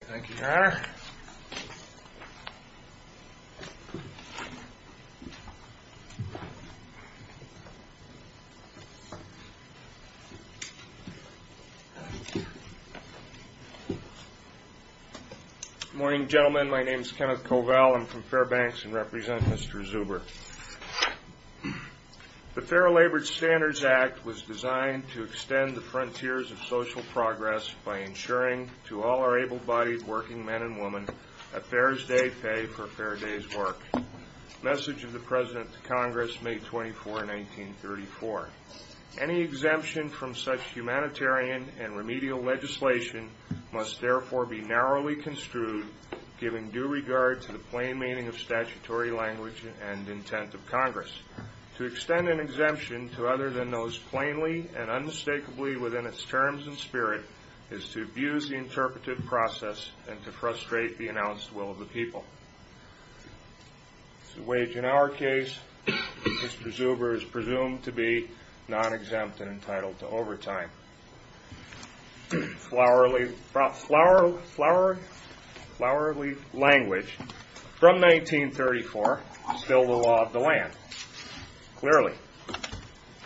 Thank you, Your Honor. Good morning, gentlemen. My name is Kenneth Covell. I'm from Fairbanks and represent Mr. Zuber. The Fair Labor Standards Act was designed to extend the frontiers of social progress by ensuring to all our able-bodied working men and women that fairs day pay for fair day's work. Message of the President to Congress, May 24, 1934. Any exemption from such humanitarian and remedial legislation must therefore be narrowly construed, giving due regard to the plain meaning of statutory language and intent of Congress. To extend an exemption to other than those plainly and unmistakably within its terms and spirit is to abuse the interpretive process and to frustrate the announced will of the people. To wage in our case, Mr. Zuber is presumed to be non-exempt and entitled to overtime. Flowerly language from 1934, still the law of the land. Clearly.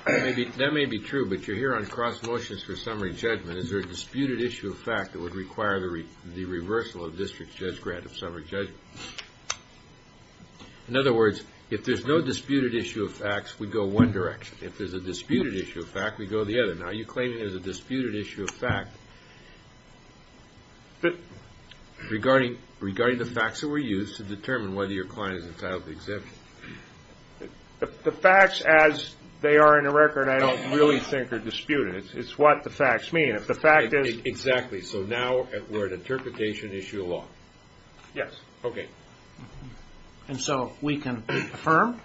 That may be true, but you're here on cross-motions for summary judgment. Is there a disputed issue of fact that would require the reversal of district judge grant of summary judgment? In other words, if there's no disputed issue of facts, we go one direction. If there's a disputed issue of fact, we go the other. Now, you're claiming there's a disputed issue of fact regarding the facts that were used to determine whether your client is entitled to exemption. The facts as they are in the record I don't really think are disputed. It's what the facts mean. Exactly. So now we're at interpretation issue of law. Yes. Okay. And so we can affirm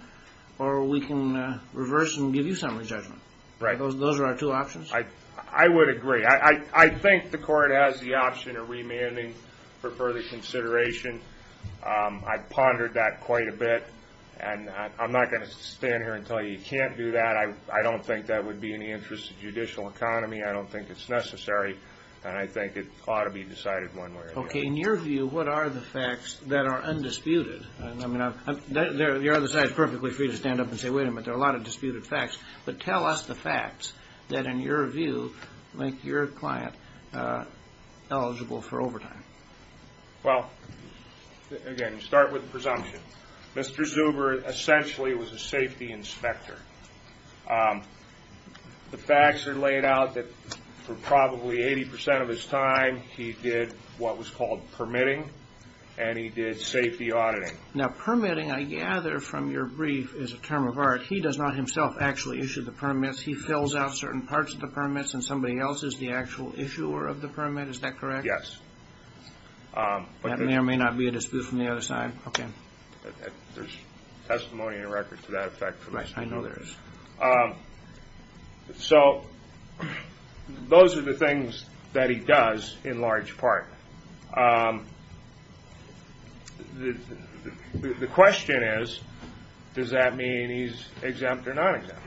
or we can reverse and give you summary judgment. Right. Those are our two options. I would agree. I think the court has the option of remanding for further consideration. I pondered that quite a bit, and I'm not going to stand here and tell you you can't do that. I don't think that would be in the interest of judicial economy. I don't think it's necessary, and I think it ought to be decided one way or the other. Okay. In your view, what are the facts that are undisputed? I mean, the other side is perfectly free to stand up and say, wait a minute, there are a lot of disputed facts. But tell us the facts that, in your view, make your client eligible for overtime. Well, again, you start with presumption. Mr. Zuber essentially was a safety inspector. The facts are laid out that for probably 80 percent of his time, he did what was called permitting, and he did safety auditing. Now, permitting, I gather from your brief, is a term of art. He does not himself actually issue the permits. He fills out certain parts of the permits, and somebody else is the actual issuer of the permit. Is that correct? Yes. That may or may not be a dispute from the other side. Okay. There's testimony in the record to that effect. I know there is. So those are the things that he does in large part. The question is, does that mean he's exempt or non-exempt?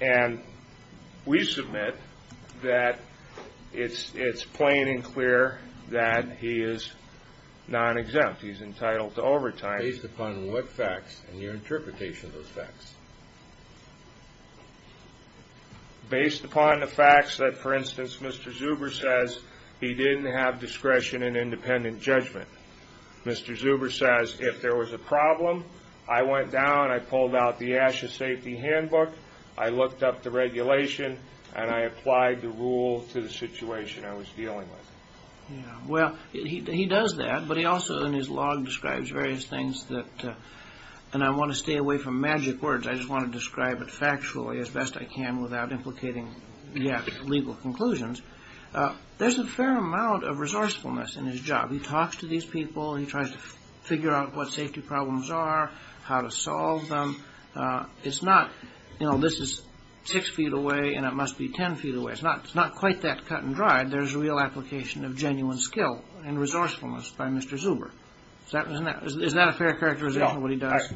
And we submit that it's plain and clear that he is non-exempt. He's entitled to overtime. Based upon what facts and your interpretation of those facts? Based upon the facts that, for instance, Mr. Zuber says he didn't have discretion in independent judgment. Mr. Zuber says, if there was a problem, I went down, I pulled out the ASHA safety handbook, I looked up the regulation, and I applied the rule to the situation I was dealing with. Well, he does that, but he also in his log describes various things, and I want to stay away from magic words. I just want to describe it factually as best I can without implicating yet legal conclusions. There's a fair amount of resourcefulness in his job. He talks to these people. He tries to figure out what safety problems are, how to solve them. It's not, you know, this is six feet away, and it must be ten feet away. It's not quite that cut and dried. There's real application of genuine skill and resourcefulness by Mr. Zuber. Is that a fair characterization of what he does?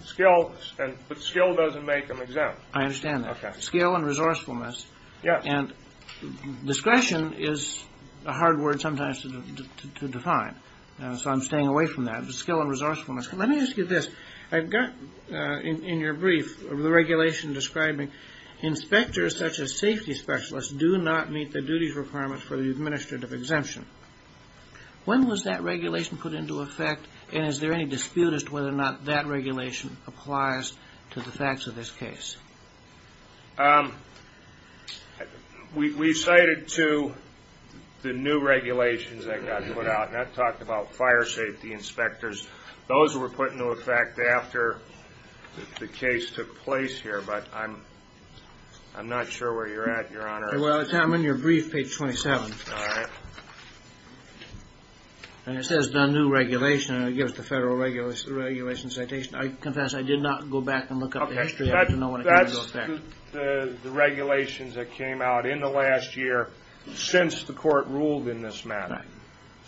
But skill doesn't make him exempt. I understand that. Skill and resourcefulness. And discretion is a hard word sometimes to define, so I'm staying away from that. But skill and resourcefulness. Let me ask you this. I've got in your brief the regulation describing inspectors, such as safety specialists, do not meet the duties requirement for the administrative exemption. When was that regulation put into effect, and is there any dispute as to whether or not that regulation applies to the facts of this case? We cited to the new regulations that got put out, and I've talked about fire safety inspectors. Those were put into effect after the case took place here, but I'm not sure where you're at, Your Honor. Well, it's not in your brief, page 27. All right. And it says done new regulation, and it gives the federal regulation citation. I confess I did not go back and look up the history. I don't know when it came into effect. That's the regulations that came out in the last year since the court ruled in this matter.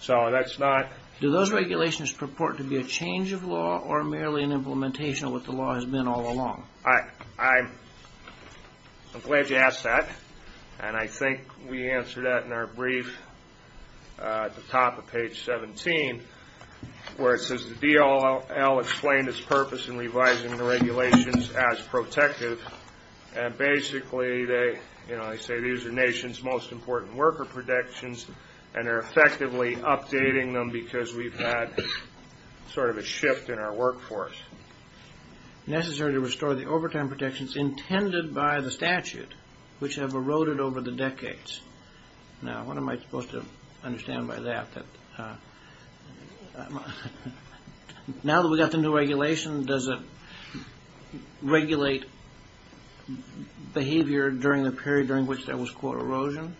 So that's not. Do those regulations purport to be a change of law or merely an implementation of what the law has been all along? I'm glad you asked that, and I think we answered that in our brief at the top of page 17, where it says the DLL explained its purpose in revising the regulations as protective, and basically they say these are nation's most important worker protections, and they're effectively updating them because we've had sort of a shift in our workforce. Necessary to restore the overtime protections intended by the statute, which have eroded over the decades. Now, what am I supposed to understand by that? Now that we've got the new regulation, does it regulate behavior during the period during which there was, quote, erosion?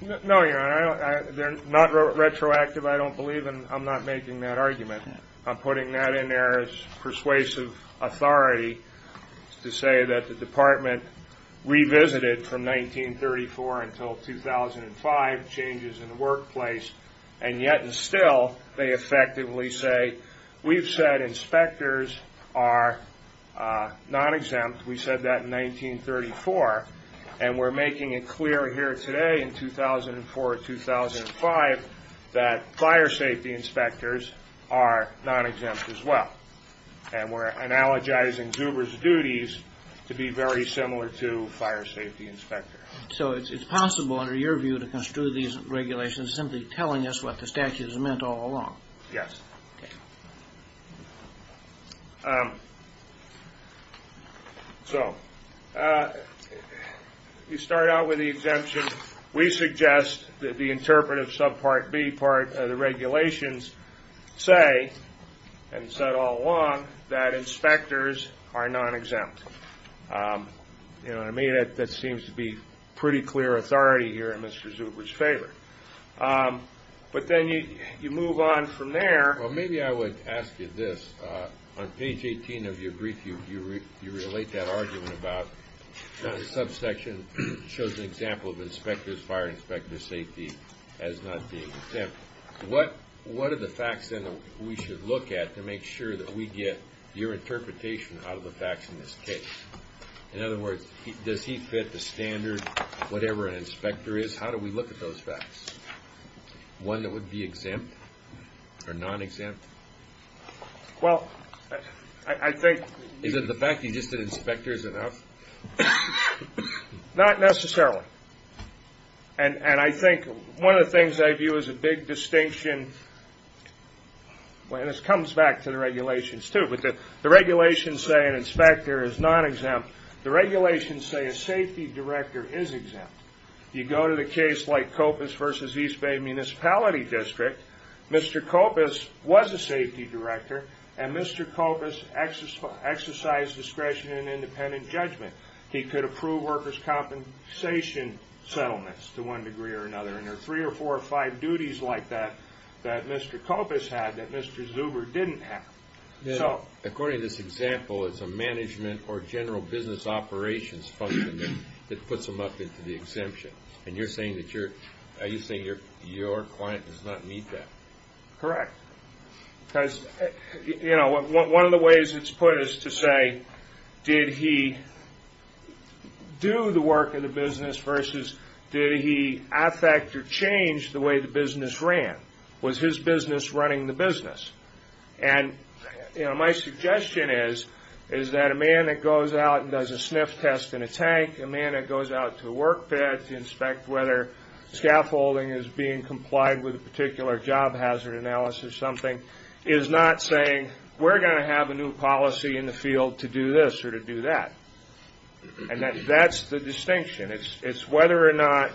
No, Your Honor. They're not retroactive, I don't believe, and I'm not making that argument. I'm putting that in there as persuasive authority to say that the department revisited from 1934 until 2005 changes in the workplace, and yet and still they effectively say we've said inspectors are non-exempt. We said that in 1934, and we're making it clear here today in 2004-2005 that fire safety inspectors are non-exempt as well, and we're analogizing Zuber's duties to be very similar to fire safety inspectors. So it's possible under your view to construe these regulations simply telling us what the statute has meant all along? Yes. So you start out with the exemption. We suggest that the interpretive subpart B part of the regulations say and said all along that inspectors are non-exempt. You know what I mean? That seems to be pretty clear authority here in Mr. Zuber's favor. But then you move on from there. Well, maybe I would ask you this. On page 18 of your brief, you relate that argument about the subsection shows an example of inspectors, fire inspector safety as not being exempt. What are the facts then that we should look at to make sure that we get your interpretation out of the facts in this case? In other words, does he fit the standard, whatever an inspector is? How do we look at those facts? One that would be exempt or non-exempt? Well, I think... Is it the fact that he just said inspector is enough? Not necessarily. And I think one of the things I view as a big distinction, and this comes back to the regulations too, but the regulations say an inspector is non-exempt. The regulations say a safety director is exempt. You go to the case like Copas v. East Bay Municipality District, Mr. Copas was a safety director, and Mr. Copas exercised discretion in independent judgment. He could approve workers' compensation settlements to one degree or another. And there are three or four or five duties like that that Mr. Copas had that Mr. Zuber didn't have. According to this example, it's a management or general business operations function that puts him up into the exemption. And you're saying your client does not meet that. Correct. Because one of the ways it's put is to say, did he do the work of the business versus did he affect or change the way the business ran? Was his business running the business? And, you know, my suggestion is that a man that goes out and does a sniff test in a tank, a man that goes out to a work bed to inspect whether scaffolding is being complied with a particular job hazard analysis or something, is not saying, we're going to have a new policy in the field to do this or to do that. And that's the distinction. It's whether or not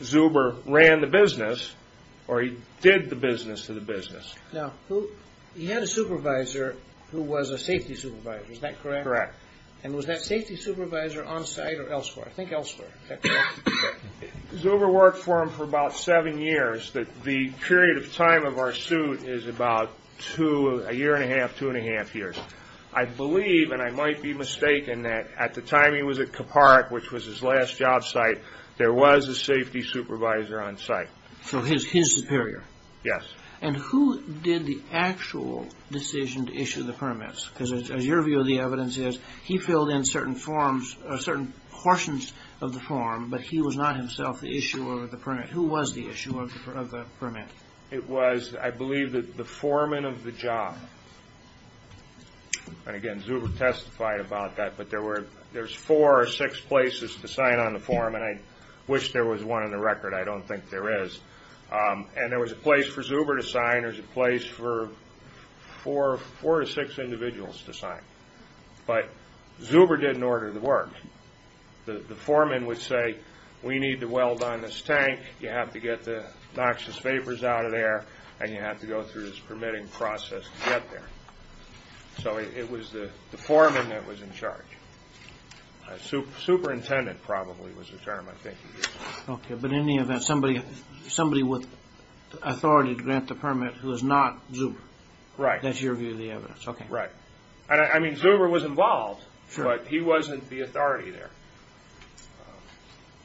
Zuber ran the business or he did the business of the business. Now, he had a supervisor who was a safety supervisor. Is that correct? Correct. And was that safety supervisor on site or elsewhere? I think elsewhere. Zuber worked for him for about seven years. The period of time of our suit is about a year and a half, two and a half years. I believe, and I might be mistaken, that at the time he was at Kaparik, which was his last job site, there was a safety supervisor on site. So his superior. Yes. And who did the actual decision to issue the permits? Because as your view of the evidence is, he filled in certain forms, certain portions of the form, but he was not himself the issuer of the permit. Who was the issuer of the permit? It was, I believe, the foreman of the job. And, again, Zuber testified about that, but there were four or six places to sign on the form, and I wish there was one in the record. I don't think there is. And there was a place for Zuber to sign. There was a place for four or six individuals to sign. But Zuber didn't order the work. The foreman would say, we need to weld on this tank. You have to get the noxious vapors out of there, and you have to go through this permitting process to get there. So it was the foreman that was in charge. Superintendent, probably, was the term, I think. Okay, but in any event, somebody with authority to grant the permit who is not Zuber. Right. That's your view of the evidence. Right. I mean, Zuber was involved, but he wasn't the authority there.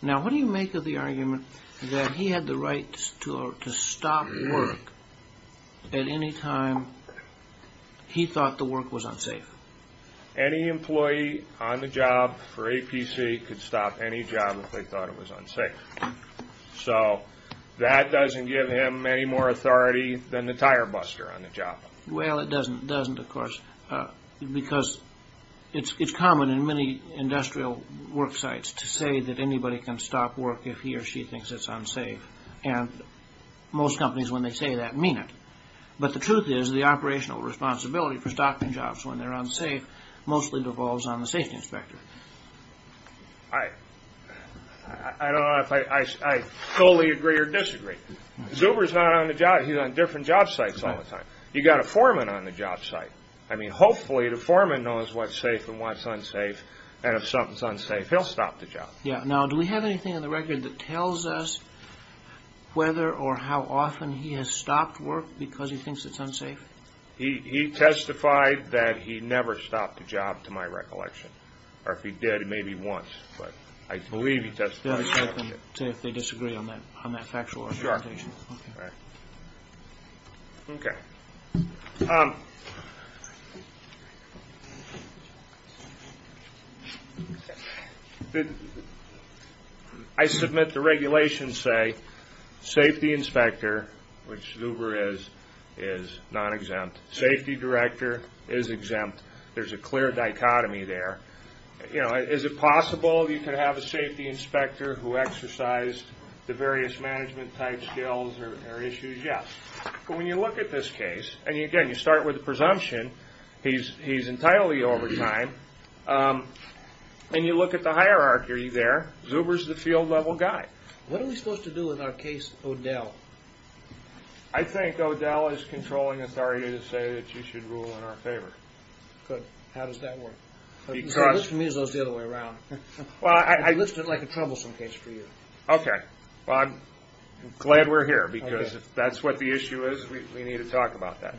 Now, what do you make of the argument that he had the right to stop work at any time he thought the work was unsafe? Any employee on the job for APC could stop any job if they thought it was unsafe. So that doesn't give him any more authority than the tire buster on the job. Well, it doesn't, of course, because it's common in many industrial work sites to say that anybody can stop work if he or she thinks it's unsafe. And most companies, when they say that, mean it. But the truth is the operational responsibility for stopping jobs when they're unsafe mostly devolves on the safety inspector. I don't know if I fully agree or disagree. Zuber's not on the job. He's on different job sites all the time. You've got a foreman on the job site. I mean, hopefully, the foreman knows what's safe and what's unsafe, and if something's unsafe, he'll stop the job. Yeah. Now, do we have anything in the record that tells us whether or how often he has stopped work because he thinks it's unsafe? He testified that he never stopped a job, to my recollection. Or if he did, maybe once. But I believe he testified that he never did. Do you want to check and see if they disagree on that factual argumentation? Sure. Okay. I submit the regulations say safety inspector, which Zuber is, is non-exempt. Safety director is exempt. There's a clear dichotomy there. You know, is it possible you could have a safety inspector who exercised the various management type skills or issues? Yes. But when you look at this case, and, again, you start with the presumption he's entitled to overtime, and you look at the hierarchy there, Zuber's the field-level guy. What are we supposed to do with our case, O'Dell? I think O'Dell is controlling authority to say that you should rule in our favor. Good. How does that work? Because… The list for me is the other way around. I list it like a troublesome case for you. Okay. Well, I'm glad we're here because if that's what the issue is, we need to talk about that.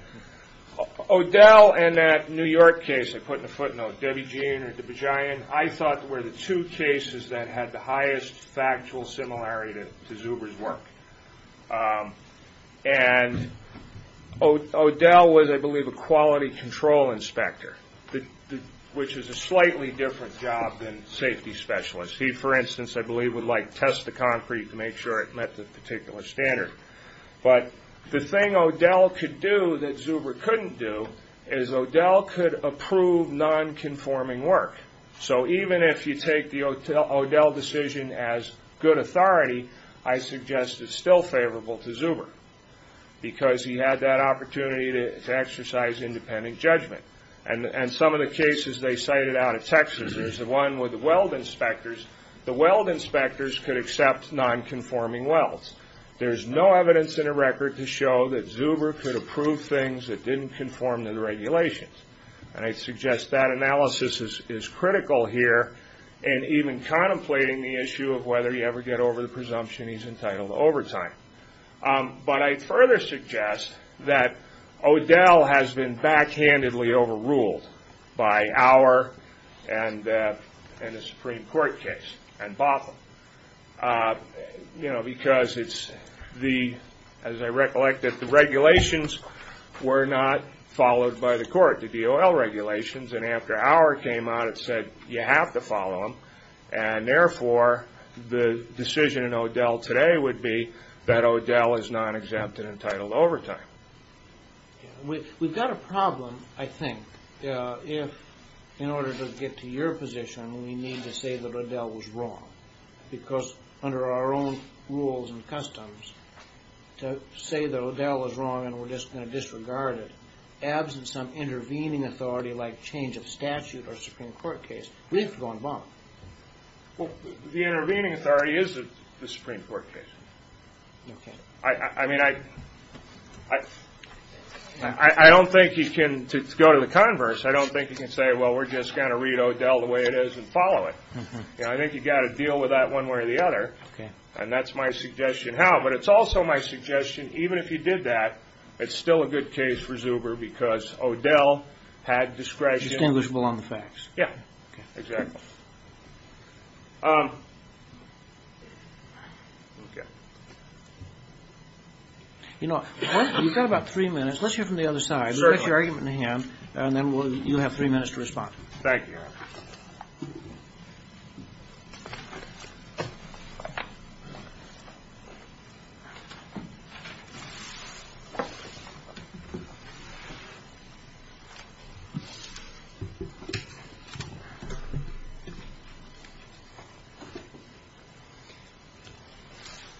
O'Dell and that New York case I put in the footnote, Debbie Jean or DeBejian, I thought were the two cases that had the highest factual similarity to Zuber's work. And O'Dell was, I believe, a quality control inspector, which is a slightly different job than safety specialist. He, for instance, I believe, would test the concrete to make sure it met the particular standard. But the thing O'Dell could do that Zuber couldn't do is O'Dell could approve non-conforming work. So even if you take the O'Dell decision as good authority, I suggest it's still favorable to Zuber because he had that opportunity to exercise independent judgment. And some of the cases they cited out of Texas, there's the one with the weld inspectors. The weld inspectors could accept non-conforming welds. There's no evidence in the record to show that Zuber could approve things that didn't conform to the regulations. And I suggest that analysis is critical here, and even contemplating the issue of whether you ever get over the presumption he's entitled to overtime. But I further suggest that O'Dell has been backhandedly overruled by Auer and the Supreme Court case and Botham. You know, because it's the, as I recollect, that the regulations were not followed by the court, the DOL regulations. And after Auer came out, it said you have to follow them. And therefore, the decision in O'Dell today would be that O'Dell is non-exempt and entitled to overtime. We've got a problem, I think, if in order to get to your position, we need to say that O'Dell was wrong. Because under our own rules and customs, to say that O'Dell was wrong and we're just going to disregard it, in the absence of some intervening authority like change of statute or Supreme Court case, we have to go and bomb it. Well, the intervening authority is the Supreme Court case. Okay. I mean, I don't think you can, to go to the converse, I don't think you can say, well, we're just going to read O'Dell the way it is and follow it. You know, I think you've got to deal with that one way or the other. Okay. And that's my suggestion how. But it's also my suggestion, even if you did that, it's still a good case for Zuber because O'Dell had discretion. Distinguishable on the facts. Yeah. Okay. Exactly. Okay. You know, you've got about three minutes. Let's hear from the other side. Certainly. Let's get your argument in the hand, and then you'll have three minutes to respond. Thank you, Eric.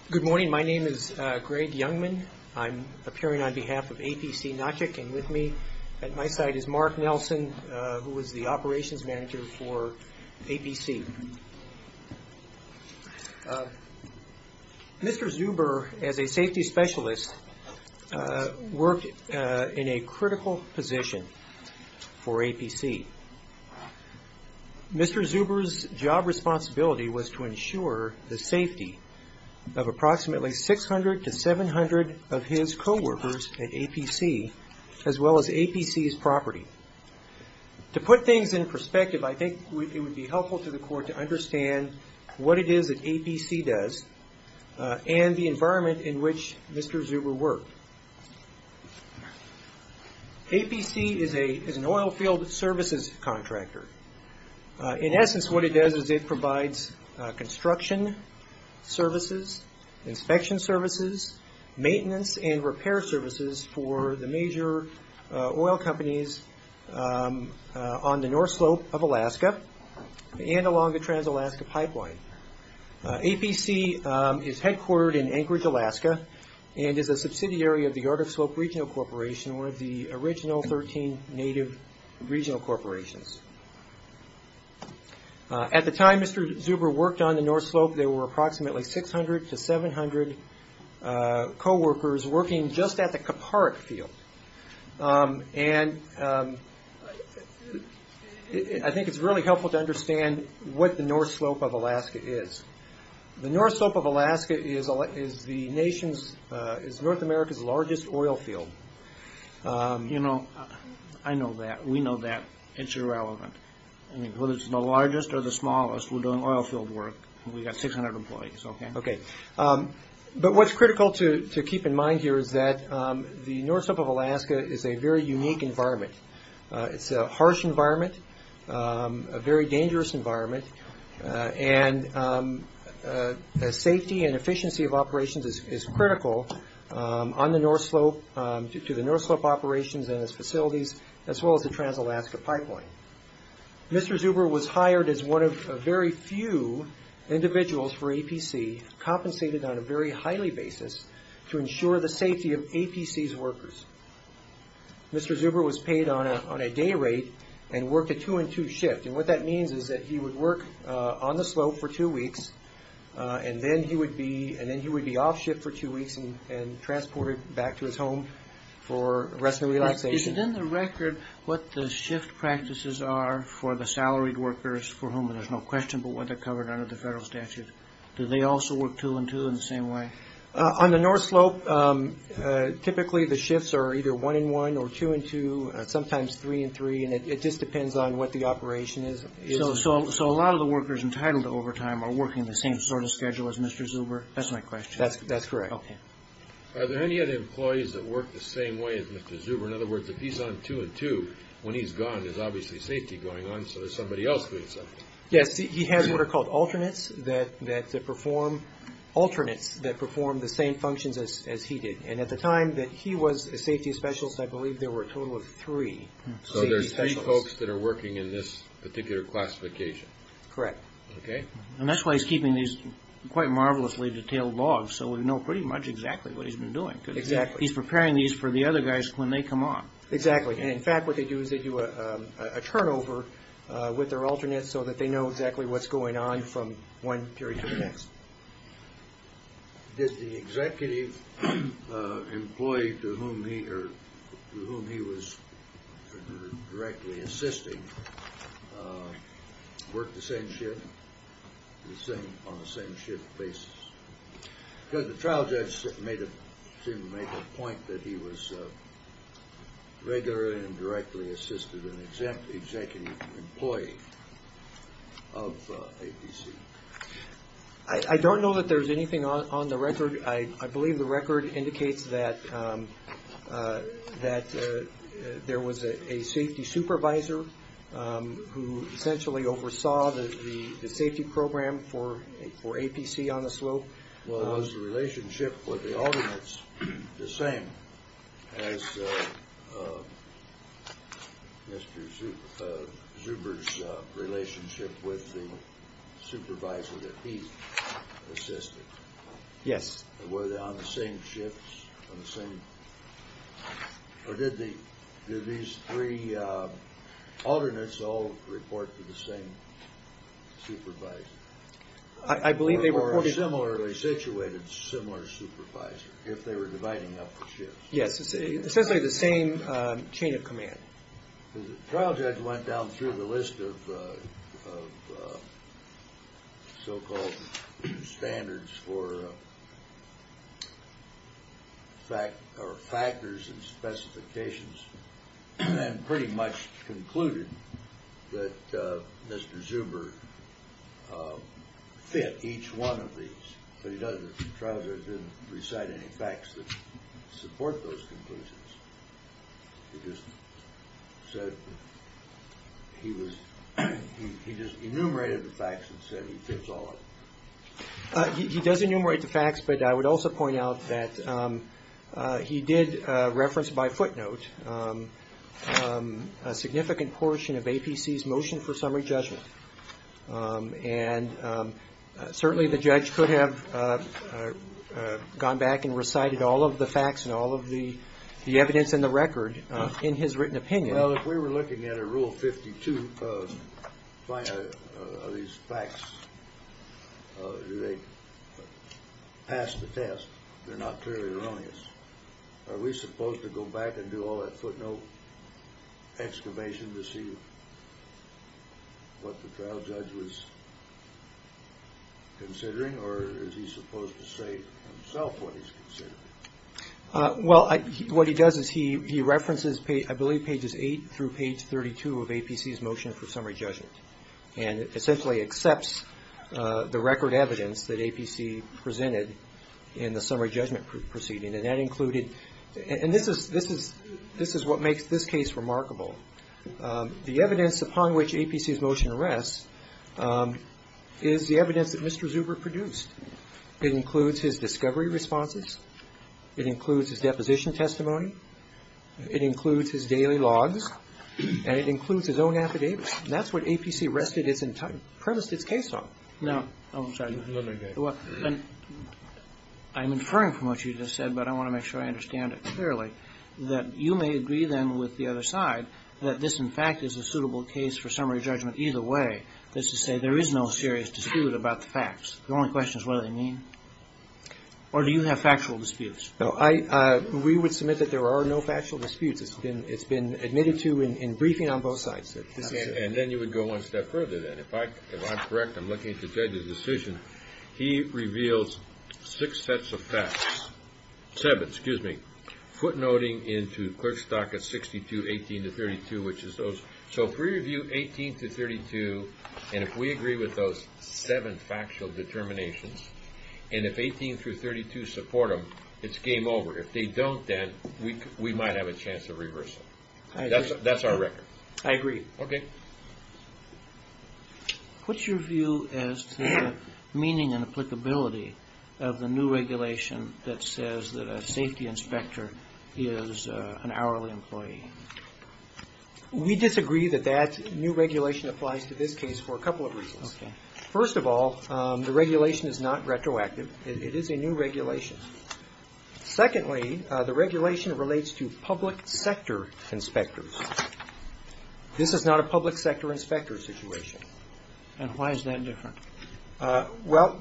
Good morning. My name is Greg Youngman. I'm appearing on behalf of APC Notchik, and with me at my side is Mark Nelson, who is the operations manager for APC. Mr. Zuber, as a safety specialist, worked in a critical position for APC. Mr. Zuber's job responsibility was to ensure the safety of approximately 600 to 700 of his coworkers at APC, as well as APC's property. To put things in perspective, I think it would be helpful to the court to understand what it is that APC does and the environment in which Mr. Zuber worked. APC is an oil field services contractor. In essence, what it does is it provides construction services, inspection services, maintenance and repair services for the major oil companies on the North Slope of Alaska and along the Trans-Alaska Pipeline. APC is headquartered in Anchorage, Alaska, and is a subsidiary of the Yard of Slope Regional Corporation, one of the original 13 native regional corporations. At the time Mr. Zuber worked on the North Slope, there were approximately 600 to 700 coworkers working just at the Kaparik field. I think it's really helpful to understand what the North Slope of Alaska is. The North Slope of Alaska is North America's largest oil field. I know that. We know that. It's irrelevant. Whether it's the largest or the smallest, we're doing oil field work. We've got 600 employees. But what's critical to keep in mind here is that the North Slope of Alaska is a very unique environment. It's a harsh environment, a very dangerous environment, and the safety and efficiency of operations is critical. On the North Slope, to the North Slope operations and its facilities, as well as the Trans-Alaska Pipeline. Mr. Zuber was hired as one of a very few individuals for APC, compensated on a very highly basis to ensure the safety of APC's workers. Mr. Zuber was paid on a day rate and worked a two and two shift. What that means is that he would work on the slope for two weeks and then he would be off shift for two weeks and transported back to his home for rest and relaxation. Is it in the record what the shift practices are for the salaried workers for whom there's no question but what they're covered under the federal statute? Do they also work two and two in the same way? On the North Slope, typically the shifts are either one and one or two and two, sometimes three and three, and it just depends on what the operation is. So a lot of the workers entitled to overtime are working the same sort of schedule as Mr. Zuber? That's my question. That's correct. Are there any other employees that work the same way as Mr. Zuber? In other words, if he's on two and two, when he's gone there's obviously safety going on so there's somebody else doing something. Yes, he has what are called alternates that perform the same functions as he did. And at the time that he was a safety specialist, I believe there were a total of three safety specialists. So there's three folks that are working in this particular classification. Correct. Okay. And that's why he's keeping these quite marvelously detailed logs so we know pretty much exactly what he's been doing. Exactly. Because he's preparing these for the other guys when they come on. Exactly. And, in fact, what they do is they do a turnover with their alternates so that they know exactly what's going on from one period to the next. Did the executive employee to whom he was directly assisting work the same shift, on the same shift basis? Because the trial judge seemed to make a point that he was regularly and directly assisted an executive employee of APC. I don't know that there's anything on the record. I believe the record indicates that there was a safety supervisor who essentially oversaw the safety program for APC on the slope. Was the relationship with the alternates the same as Mr. Zuber's relationship with the supervisor that he assisted? Yes. Were they on the same shifts on the same – or did these three alternates all report to the same supervisor? I believe they reported – Or a similarly situated, similar supervisor, if they were dividing up the shifts? Yes. Essentially the same chain of command. The trial judge went down through the list of so-called standards for factors and specifications and pretty much concluded that Mr. Zuber fit each one of these. But the trial judge didn't recite any facts that support those conclusions. He just said he was – he just enumerated the facts and said he fits all of them. He does enumerate the facts, but I would also point out that he did reference by footnote a significant portion of APC's motion for summary judgment. And certainly the judge could have gone back and recited all of the facts and all of the evidence in the record in his written opinion. Well, if we were looking at a Rule 52 of these facts, do they pass the test? They're not clearly erroneous. Are we supposed to go back and do all that footnote excavation to see what the trial judge was considering? Or is he supposed to say himself what he's considering? Well, what he does is he references, I believe, pages 8 through page 32 of APC's motion for summary judgment and essentially accepts the record evidence that APC presented in the summary judgment proceeding. And that included – and this is what makes this case remarkable. The evidence upon which APC's motion rests is the evidence that Mr. Zuber produced. It includes his discovery responses. It includes his deposition testimony. It includes his daily logs. And it includes his own affidavits. That's what APC rested its entire – premised its case on. Now, I'm sorry. Let me go. I'm inferring from what you just said, but I want to make sure I understand it clearly, that you may agree then with the other side that this, in fact, is a suitable case for summary judgment either way. That's to say there is no serious dispute about the facts. The only question is what do they mean. Or do you have factual disputes? No. We would submit that there are no factual disputes. It's been admitted to in briefing on both sides. And then you would go one step further then. If I'm correct, I'm looking at the judge's decision, he reveals six sets of facts – seven, excuse me – footnoting into clerk's docket 62-18-32, which is those. So if we review 18-32, and if we agree with those seven factual determinations, and if 18-32 support them, it's game over. If they don't then, we might have a chance of reversal. That's our record. I agree. Okay. What's your view as to the meaning and applicability of the new regulation that says that a safety inspector is an hourly employee? We disagree that that new regulation applies to this case for a couple of reasons. First of all, the regulation is not retroactive. It is a new regulation. Secondly, the regulation relates to public sector inspectors. This is not a public sector inspector situation. And why is that different? Well,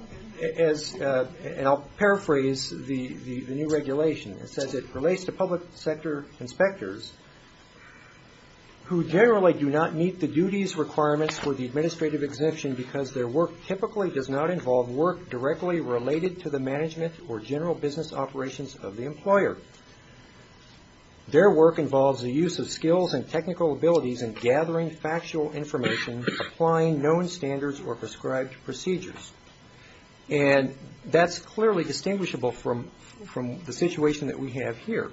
as – and I'll paraphrase the new regulation. It says it relates to public sector inspectors who generally do not meet the duties requirements for the administrative exemption because their work typically does not involve work directly related to the management or general business operations of the employer. Their work involves the use of skills and technical abilities in gathering factual information, applying known standards or prescribed procedures. And that's clearly distinguishable from the situation that we have here.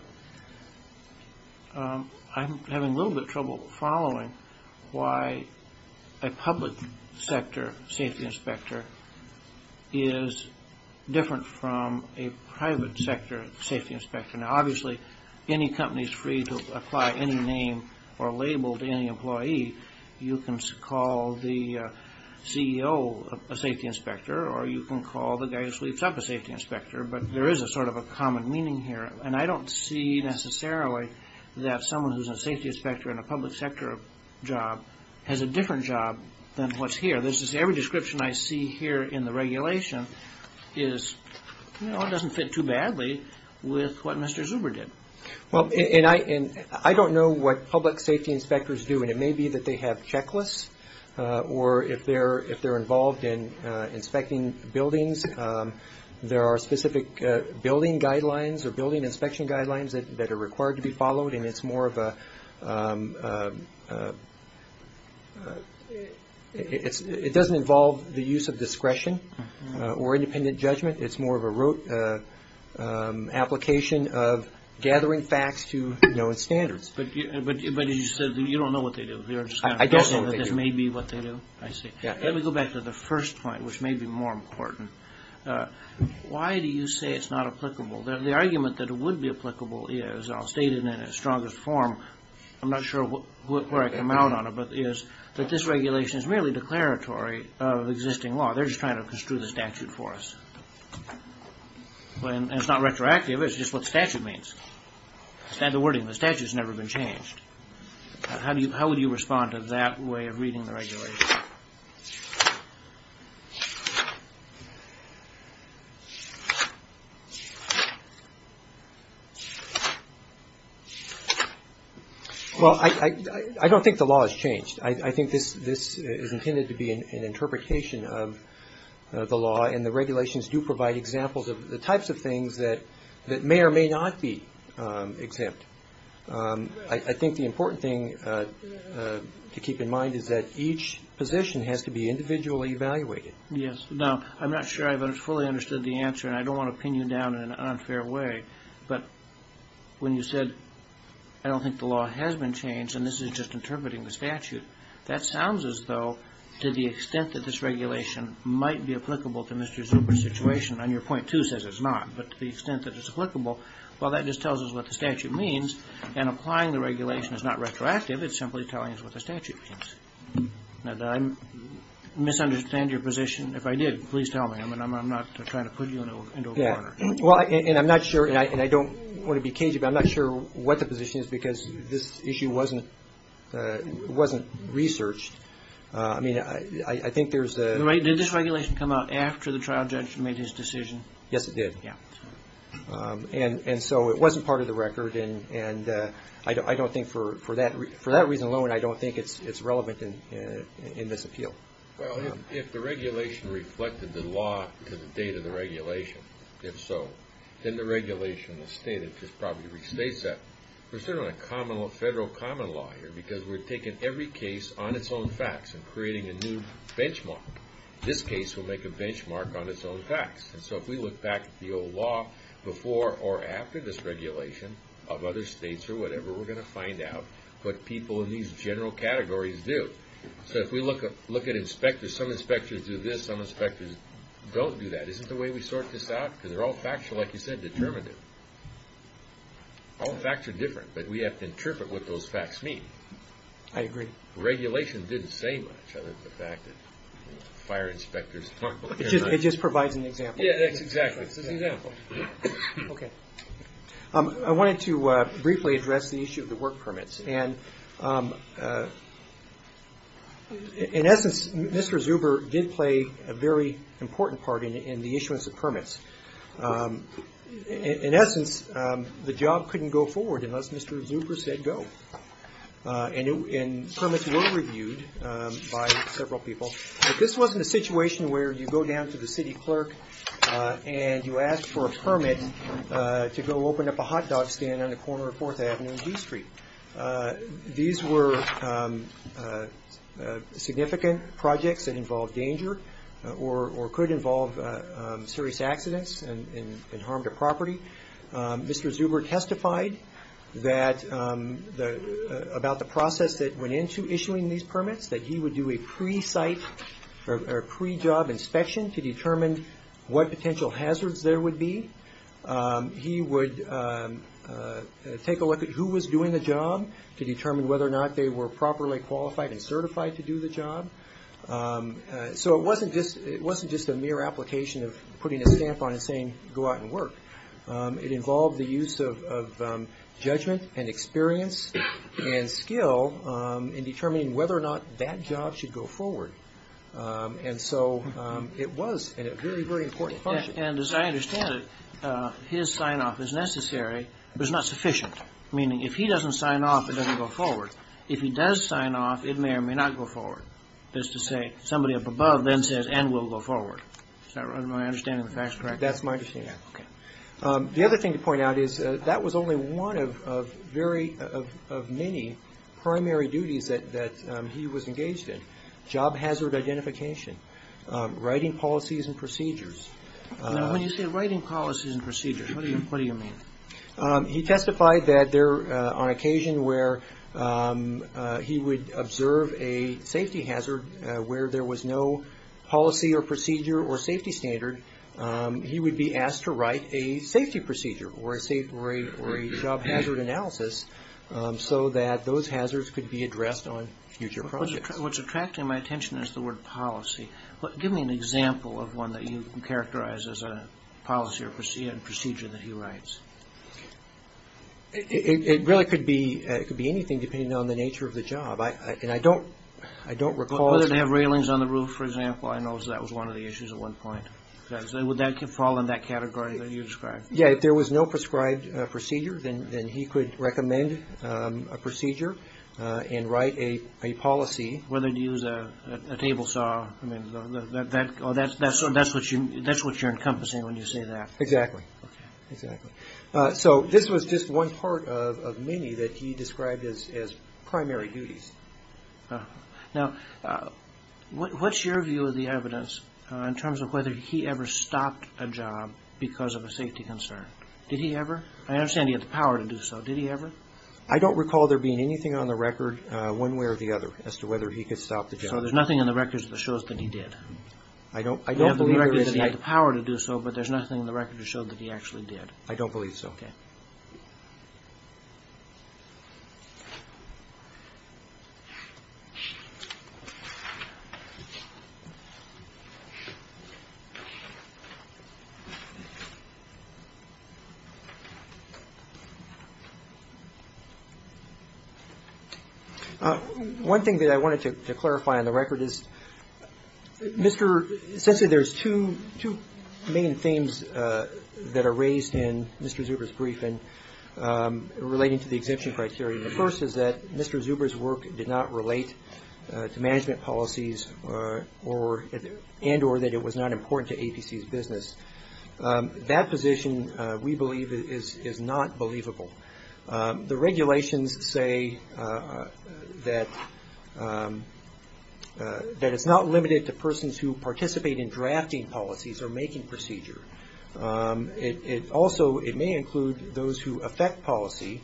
I'm having a little bit of trouble following why a public sector safety inspector is different from a private sector safety inspector. Now, obviously, any company is free to apply any name or label to any employee. You can call the CEO a safety inspector or you can call the guy who sleeps up a safety inspector. But there is a sort of a common meaning here. And I don't see necessarily that someone who's a safety inspector in a public sector job has a different job than what's here. Every description I see here in the regulation is, you know, it doesn't fit too badly with what Mr. Zuber did. Well, and I don't know what public safety inspectors do, and it may be that they have checklists or if they're involved in inspecting buildings, there are specific building guidelines or building inspection guidelines that are required to be followed. And it's more of a – it doesn't involve the use of discretion or independent judgment. It's more of an application of gathering facts to known standards. But as you said, you don't know what they do. You're just kind of guessing that this may be what they do. I see. Let me go back to the first point, which may be more important. Why do you say it's not applicable? The argument that it would be applicable is, and I'll state it in its strongest form. I'm not sure where I come out on it, but it is that this regulation is merely declaratory of existing law. They're just trying to construe the statute for us. And it's not retroactive. It's just what statute means. It's not the wording of the statute. It's never been changed. How would you respond to that way of reading the regulation? Well, I don't think the law has changed. I think this is intended to be an interpretation of the law, and the regulations do provide examples of the types of things that may or may not be exempt. I think the important thing to keep in mind is that each position has to be individually evaluated. Yes. Now, I'm not sure I've fully understood the answer, and I don't want to pin you down in an unfair way, but when you said, I don't think the law has been changed, and this is just interpreting the statute, that sounds as though to the extent that this regulation might be applicable to Mr. Zupich's situation, and your point, too, says it's not, but to the extent that it's applicable, well, that just tells us what the statute means, and applying the regulation is not retroactive. It's simply telling us what the statute means. Now, did I misunderstand your position? If I did, please tell me. I mean, I'm not trying to put you into a corner. Well, and I'm not sure, and I don't want to be cagey, but I'm not sure what the position is because this issue wasn't researched. I mean, I think there's a – Did this regulation come out after the trial judge made his decision? Yes, it did. Yeah. And so it wasn't part of the record, and I don't think for that reason alone, I don't think it's relevant in this appeal. Well, if the regulation reflected the law to the date of the regulation, if so, then the regulation in the state, it just probably restates that. We're sitting on a federal common law here because we're taking every case on its own facts and creating a new benchmark. This case will make a benchmark on its own facts, and so if we look back at the old law before or after this regulation of other states or whatever, we're going to find out what people in these general categories do. So if we look at inspectors, some inspectors do this, some inspectors don't do that. Isn't the way we sort this out? Because they're all factual, like you said, determinative. All facts are different, but we have to interpret what those facts mean. I agree. The regulation didn't say much other than the fact that fire inspectors – It just provides an example. Yeah, that's exactly. It's an example. Okay. I wanted to briefly address the issue of the work permits, and in essence, Mr. Zuber did play a very important part in the issuance of permits. In essence, the job couldn't go forward unless Mr. Zuber said go, and permits were reviewed by several people. This wasn't a situation where you go down to the city clerk and you ask for a permit to go open up a hot dog stand on the corner of 4th Avenue and D Street. These were significant projects that involved danger or could involve serious accidents and harm to property. Mr. Zuber testified about the process that went into issuing these permits, that he would do a pre-job inspection to determine what potential hazards there would be. He would take a look at who was doing the job to determine whether or not they were properly qualified and certified to do the job. So it wasn't just a mere application of putting a stamp on it saying go out and work. It involved the use of judgment and experience and skill in determining whether or not that job should go forward. And so it was a very, very important function. And as I understand it, his sign-off is necessary, but it's not sufficient. Meaning if he doesn't sign off, it doesn't go forward. If he does sign off, it may or may not go forward. That is to say, somebody up above then says and will go forward. Is my understanding of the facts correct? That's my understanding. The other thing to point out is that was only one of many primary duties that he was engaged in. Job hazard identification, writing policies and procedures. When you say writing policies and procedures, what do you mean? He testified that on occasion where he would observe a safety hazard where there was no policy or procedure or safety standard, he would be asked to write a safety procedure or a job hazard analysis so that those hazards could be addressed on future projects. What's attracting my attention is the word policy. Give me an example of one that you characterize as a policy or procedure that he writes. It really could be anything depending on the nature of the job. And I don't recall... Whether they have railings on the roof, for example, I know that was one of the issues at one point. Would that fall in that category that you described? Yeah, if there was no prescribed procedure, then he could recommend a procedure and write a policy. Whether to use a table saw, that's what you're encompassing when you say that. Exactly. So this was just one part of many that he described as primary duties. Now, what's your view of the evidence in terms of whether he ever stopped a job because of a safety concern? Did he ever? I understand he had the power to do so. Did he ever? I don't recall there being anything on the record one way or the other as to whether he could stop the job. So there's nothing in the records that shows that he did? I don't believe there is. You have the record that he had the power to do so, but there's nothing in the record that showed that he actually did? I don't believe so. Okay. Thank you. One thing that I wanted to clarify on the record is Mr. Since there's two main themes that are raised in Mr. Zuber's briefing relating to the exemption criteria. The first is that Mr. Zuber's work did not relate to management policies and or that it was not important to APC's business. That position, we believe, is not believable. The regulations say that it's not limited to persons who participate in drafting policies or making procedure. Also, it may include those who affect policy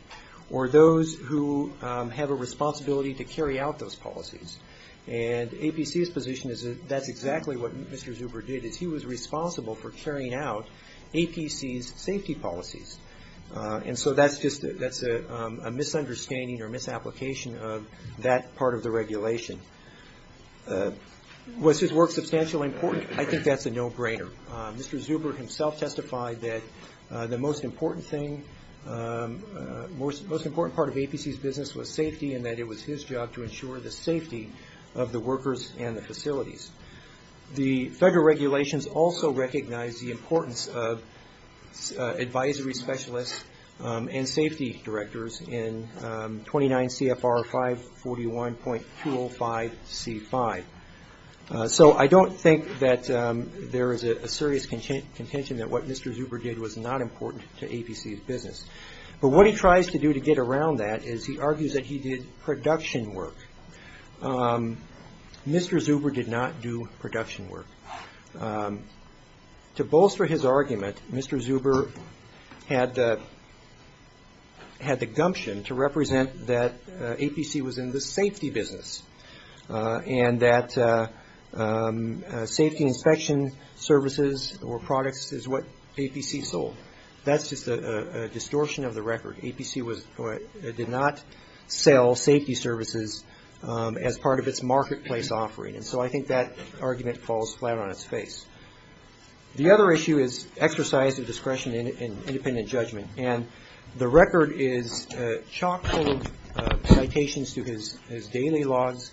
or those who have a responsibility to carry out those policies. And APC's position is that that's exactly what Mr. Zuber did is he was responsible for carrying out APC's safety policies. And so that's just a misunderstanding or misapplication of that part of the regulation. Was his work substantially important? I think that's a no-brainer. Mr. Zuber himself testified that the most important part of APC's business was safety and that it was his job to ensure the safety of the workers and the facilities. The federal regulations also recognize the importance of advisory specialists and safety directors in 29 CFR 541.205C5. So I don't think that there is a serious contention that what Mr. Zuber did was not important to APC's business. But what he tries to do to get around that is he argues that he did production work. Mr. Zuber did not do production work. To bolster his argument, Mr. Zuber had the gumption to represent that APC was in the safety business and that safety inspection services or products is what APC sold. That's just a distortion of the record. APC did not sell safety services as part of its marketplace offering. And so I think that argument falls flat on its face. The other issue is exercise of discretion in independent judgment. And the record is chock-full of citations to his daily logs,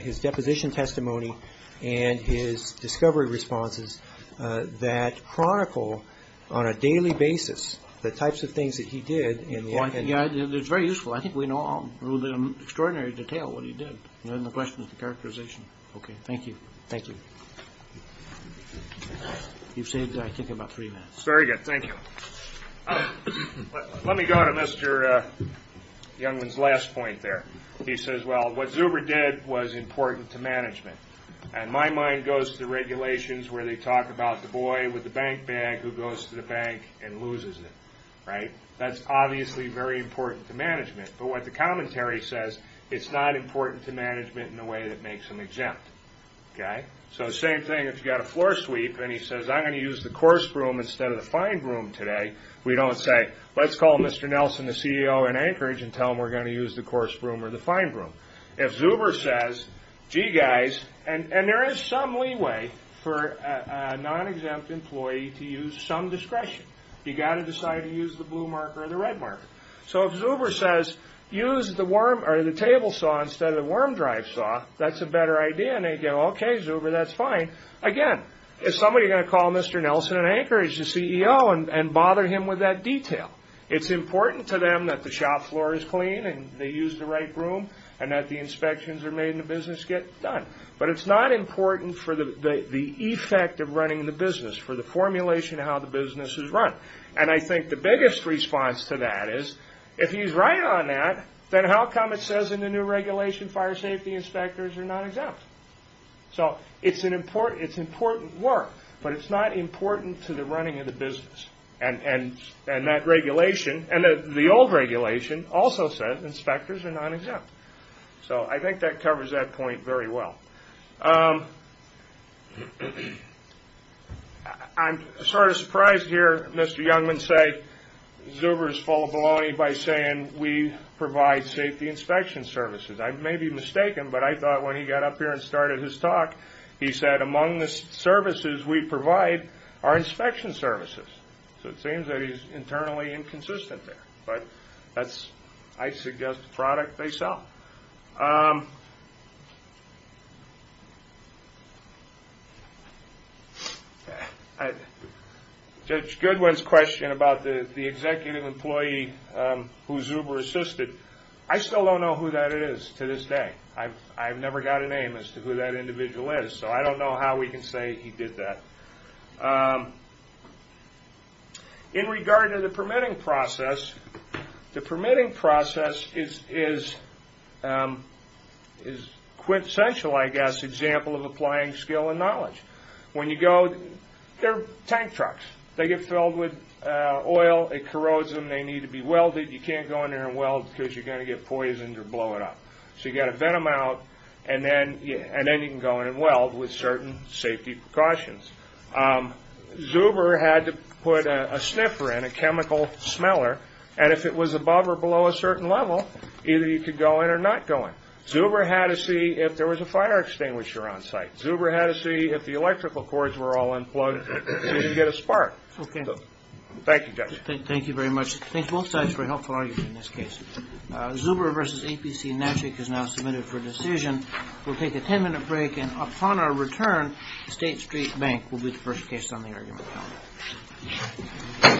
his deposition testimony, and his discovery responses that chronicle on a daily basis the types of things that he did. It's very useful. I think we know all in extraordinary detail what he did. The question is the characterization. Okay, thank you. Thank you. You've saved, I think, about three minutes. That's very good. Thank you. Let me go to Mr. Youngman's last point there. He says, well, what Zuber did was important to management. And my mind goes to regulations where they talk about the boy with the bank bag who goes to the bank and loses it. Right? That's obviously very important to management. But what the commentary says, it's not important to management in a way that makes them exempt. Okay? So the same thing if you've got a floor sweep and he says, I'm going to use the coarse broom instead of the fine broom today, we don't say, let's call Mr. Nelson, the CEO in Anchorage, and tell him we're going to use the coarse broom or the fine broom. If Zuber says, gee, guys, and there is some leeway for a non-exempt employee to use some discretion. You've got to decide to use the blue marker or the red marker. So if Zuber says, use the table saw instead of the worm drive saw, that's a better idea. And they go, okay, Zuber, that's fine. Again, if somebody is going to call Mr. Nelson in Anchorage, the CEO, and bother him with that detail, it's important to them that the shop floor is clean and they use the right broom and that the inspections are made and the business gets done. But it's not important for the effect of running the business, for the formulation of how the business is run. And I think the biggest response to that is, if he's right on that, then how come it says in the new regulation fire safety inspectors are not exempt? So it's important work, but it's not important to the running of the business. And that regulation, and the old regulation, also says inspectors are not exempt. So I think that covers that point very well. I'm sort of surprised to hear Mr. Youngman say Zuber is full of baloney by saying we provide safety inspection services. I may be mistaken, but I thought when he got up here and started his talk, he said among the services we provide are inspection services. So it seems that he's internally inconsistent there. But I suggest the product they sell. Judge Goodwin's question about the executive employee who Zuber assisted, I still don't know who that is to this day. I've never got a name as to who that individual is. So I don't know how we can say he did that. In regard to the permitting process, the permitting process is quintessential, I guess, example of applying skill and knowledge. When you go, they're tank trucks. They get filled with oil, it corrodes them, they need to be welded. You can't go in there and weld because you're going to get poisoned or blow it up. So you've got to vent them out, and then you can go in and weld with certain safety precautions. Zuber had to put a sniffer in, a chemical smeller, and if it was above or below a certain level, either you could go in or not go in. Zuber had to see if there was a fire extinguisher on site. Zuber had to see if the electrical cords were all unplugged so he could get a spark. Thank you, Judge. Thank you very much. Thanks both sides for a helpful argument in this case. Zuber v. APC Natchik is now submitted for decision. We'll take a ten-minute break, and upon our return, State Street Bank will be the first case on the argument calendar.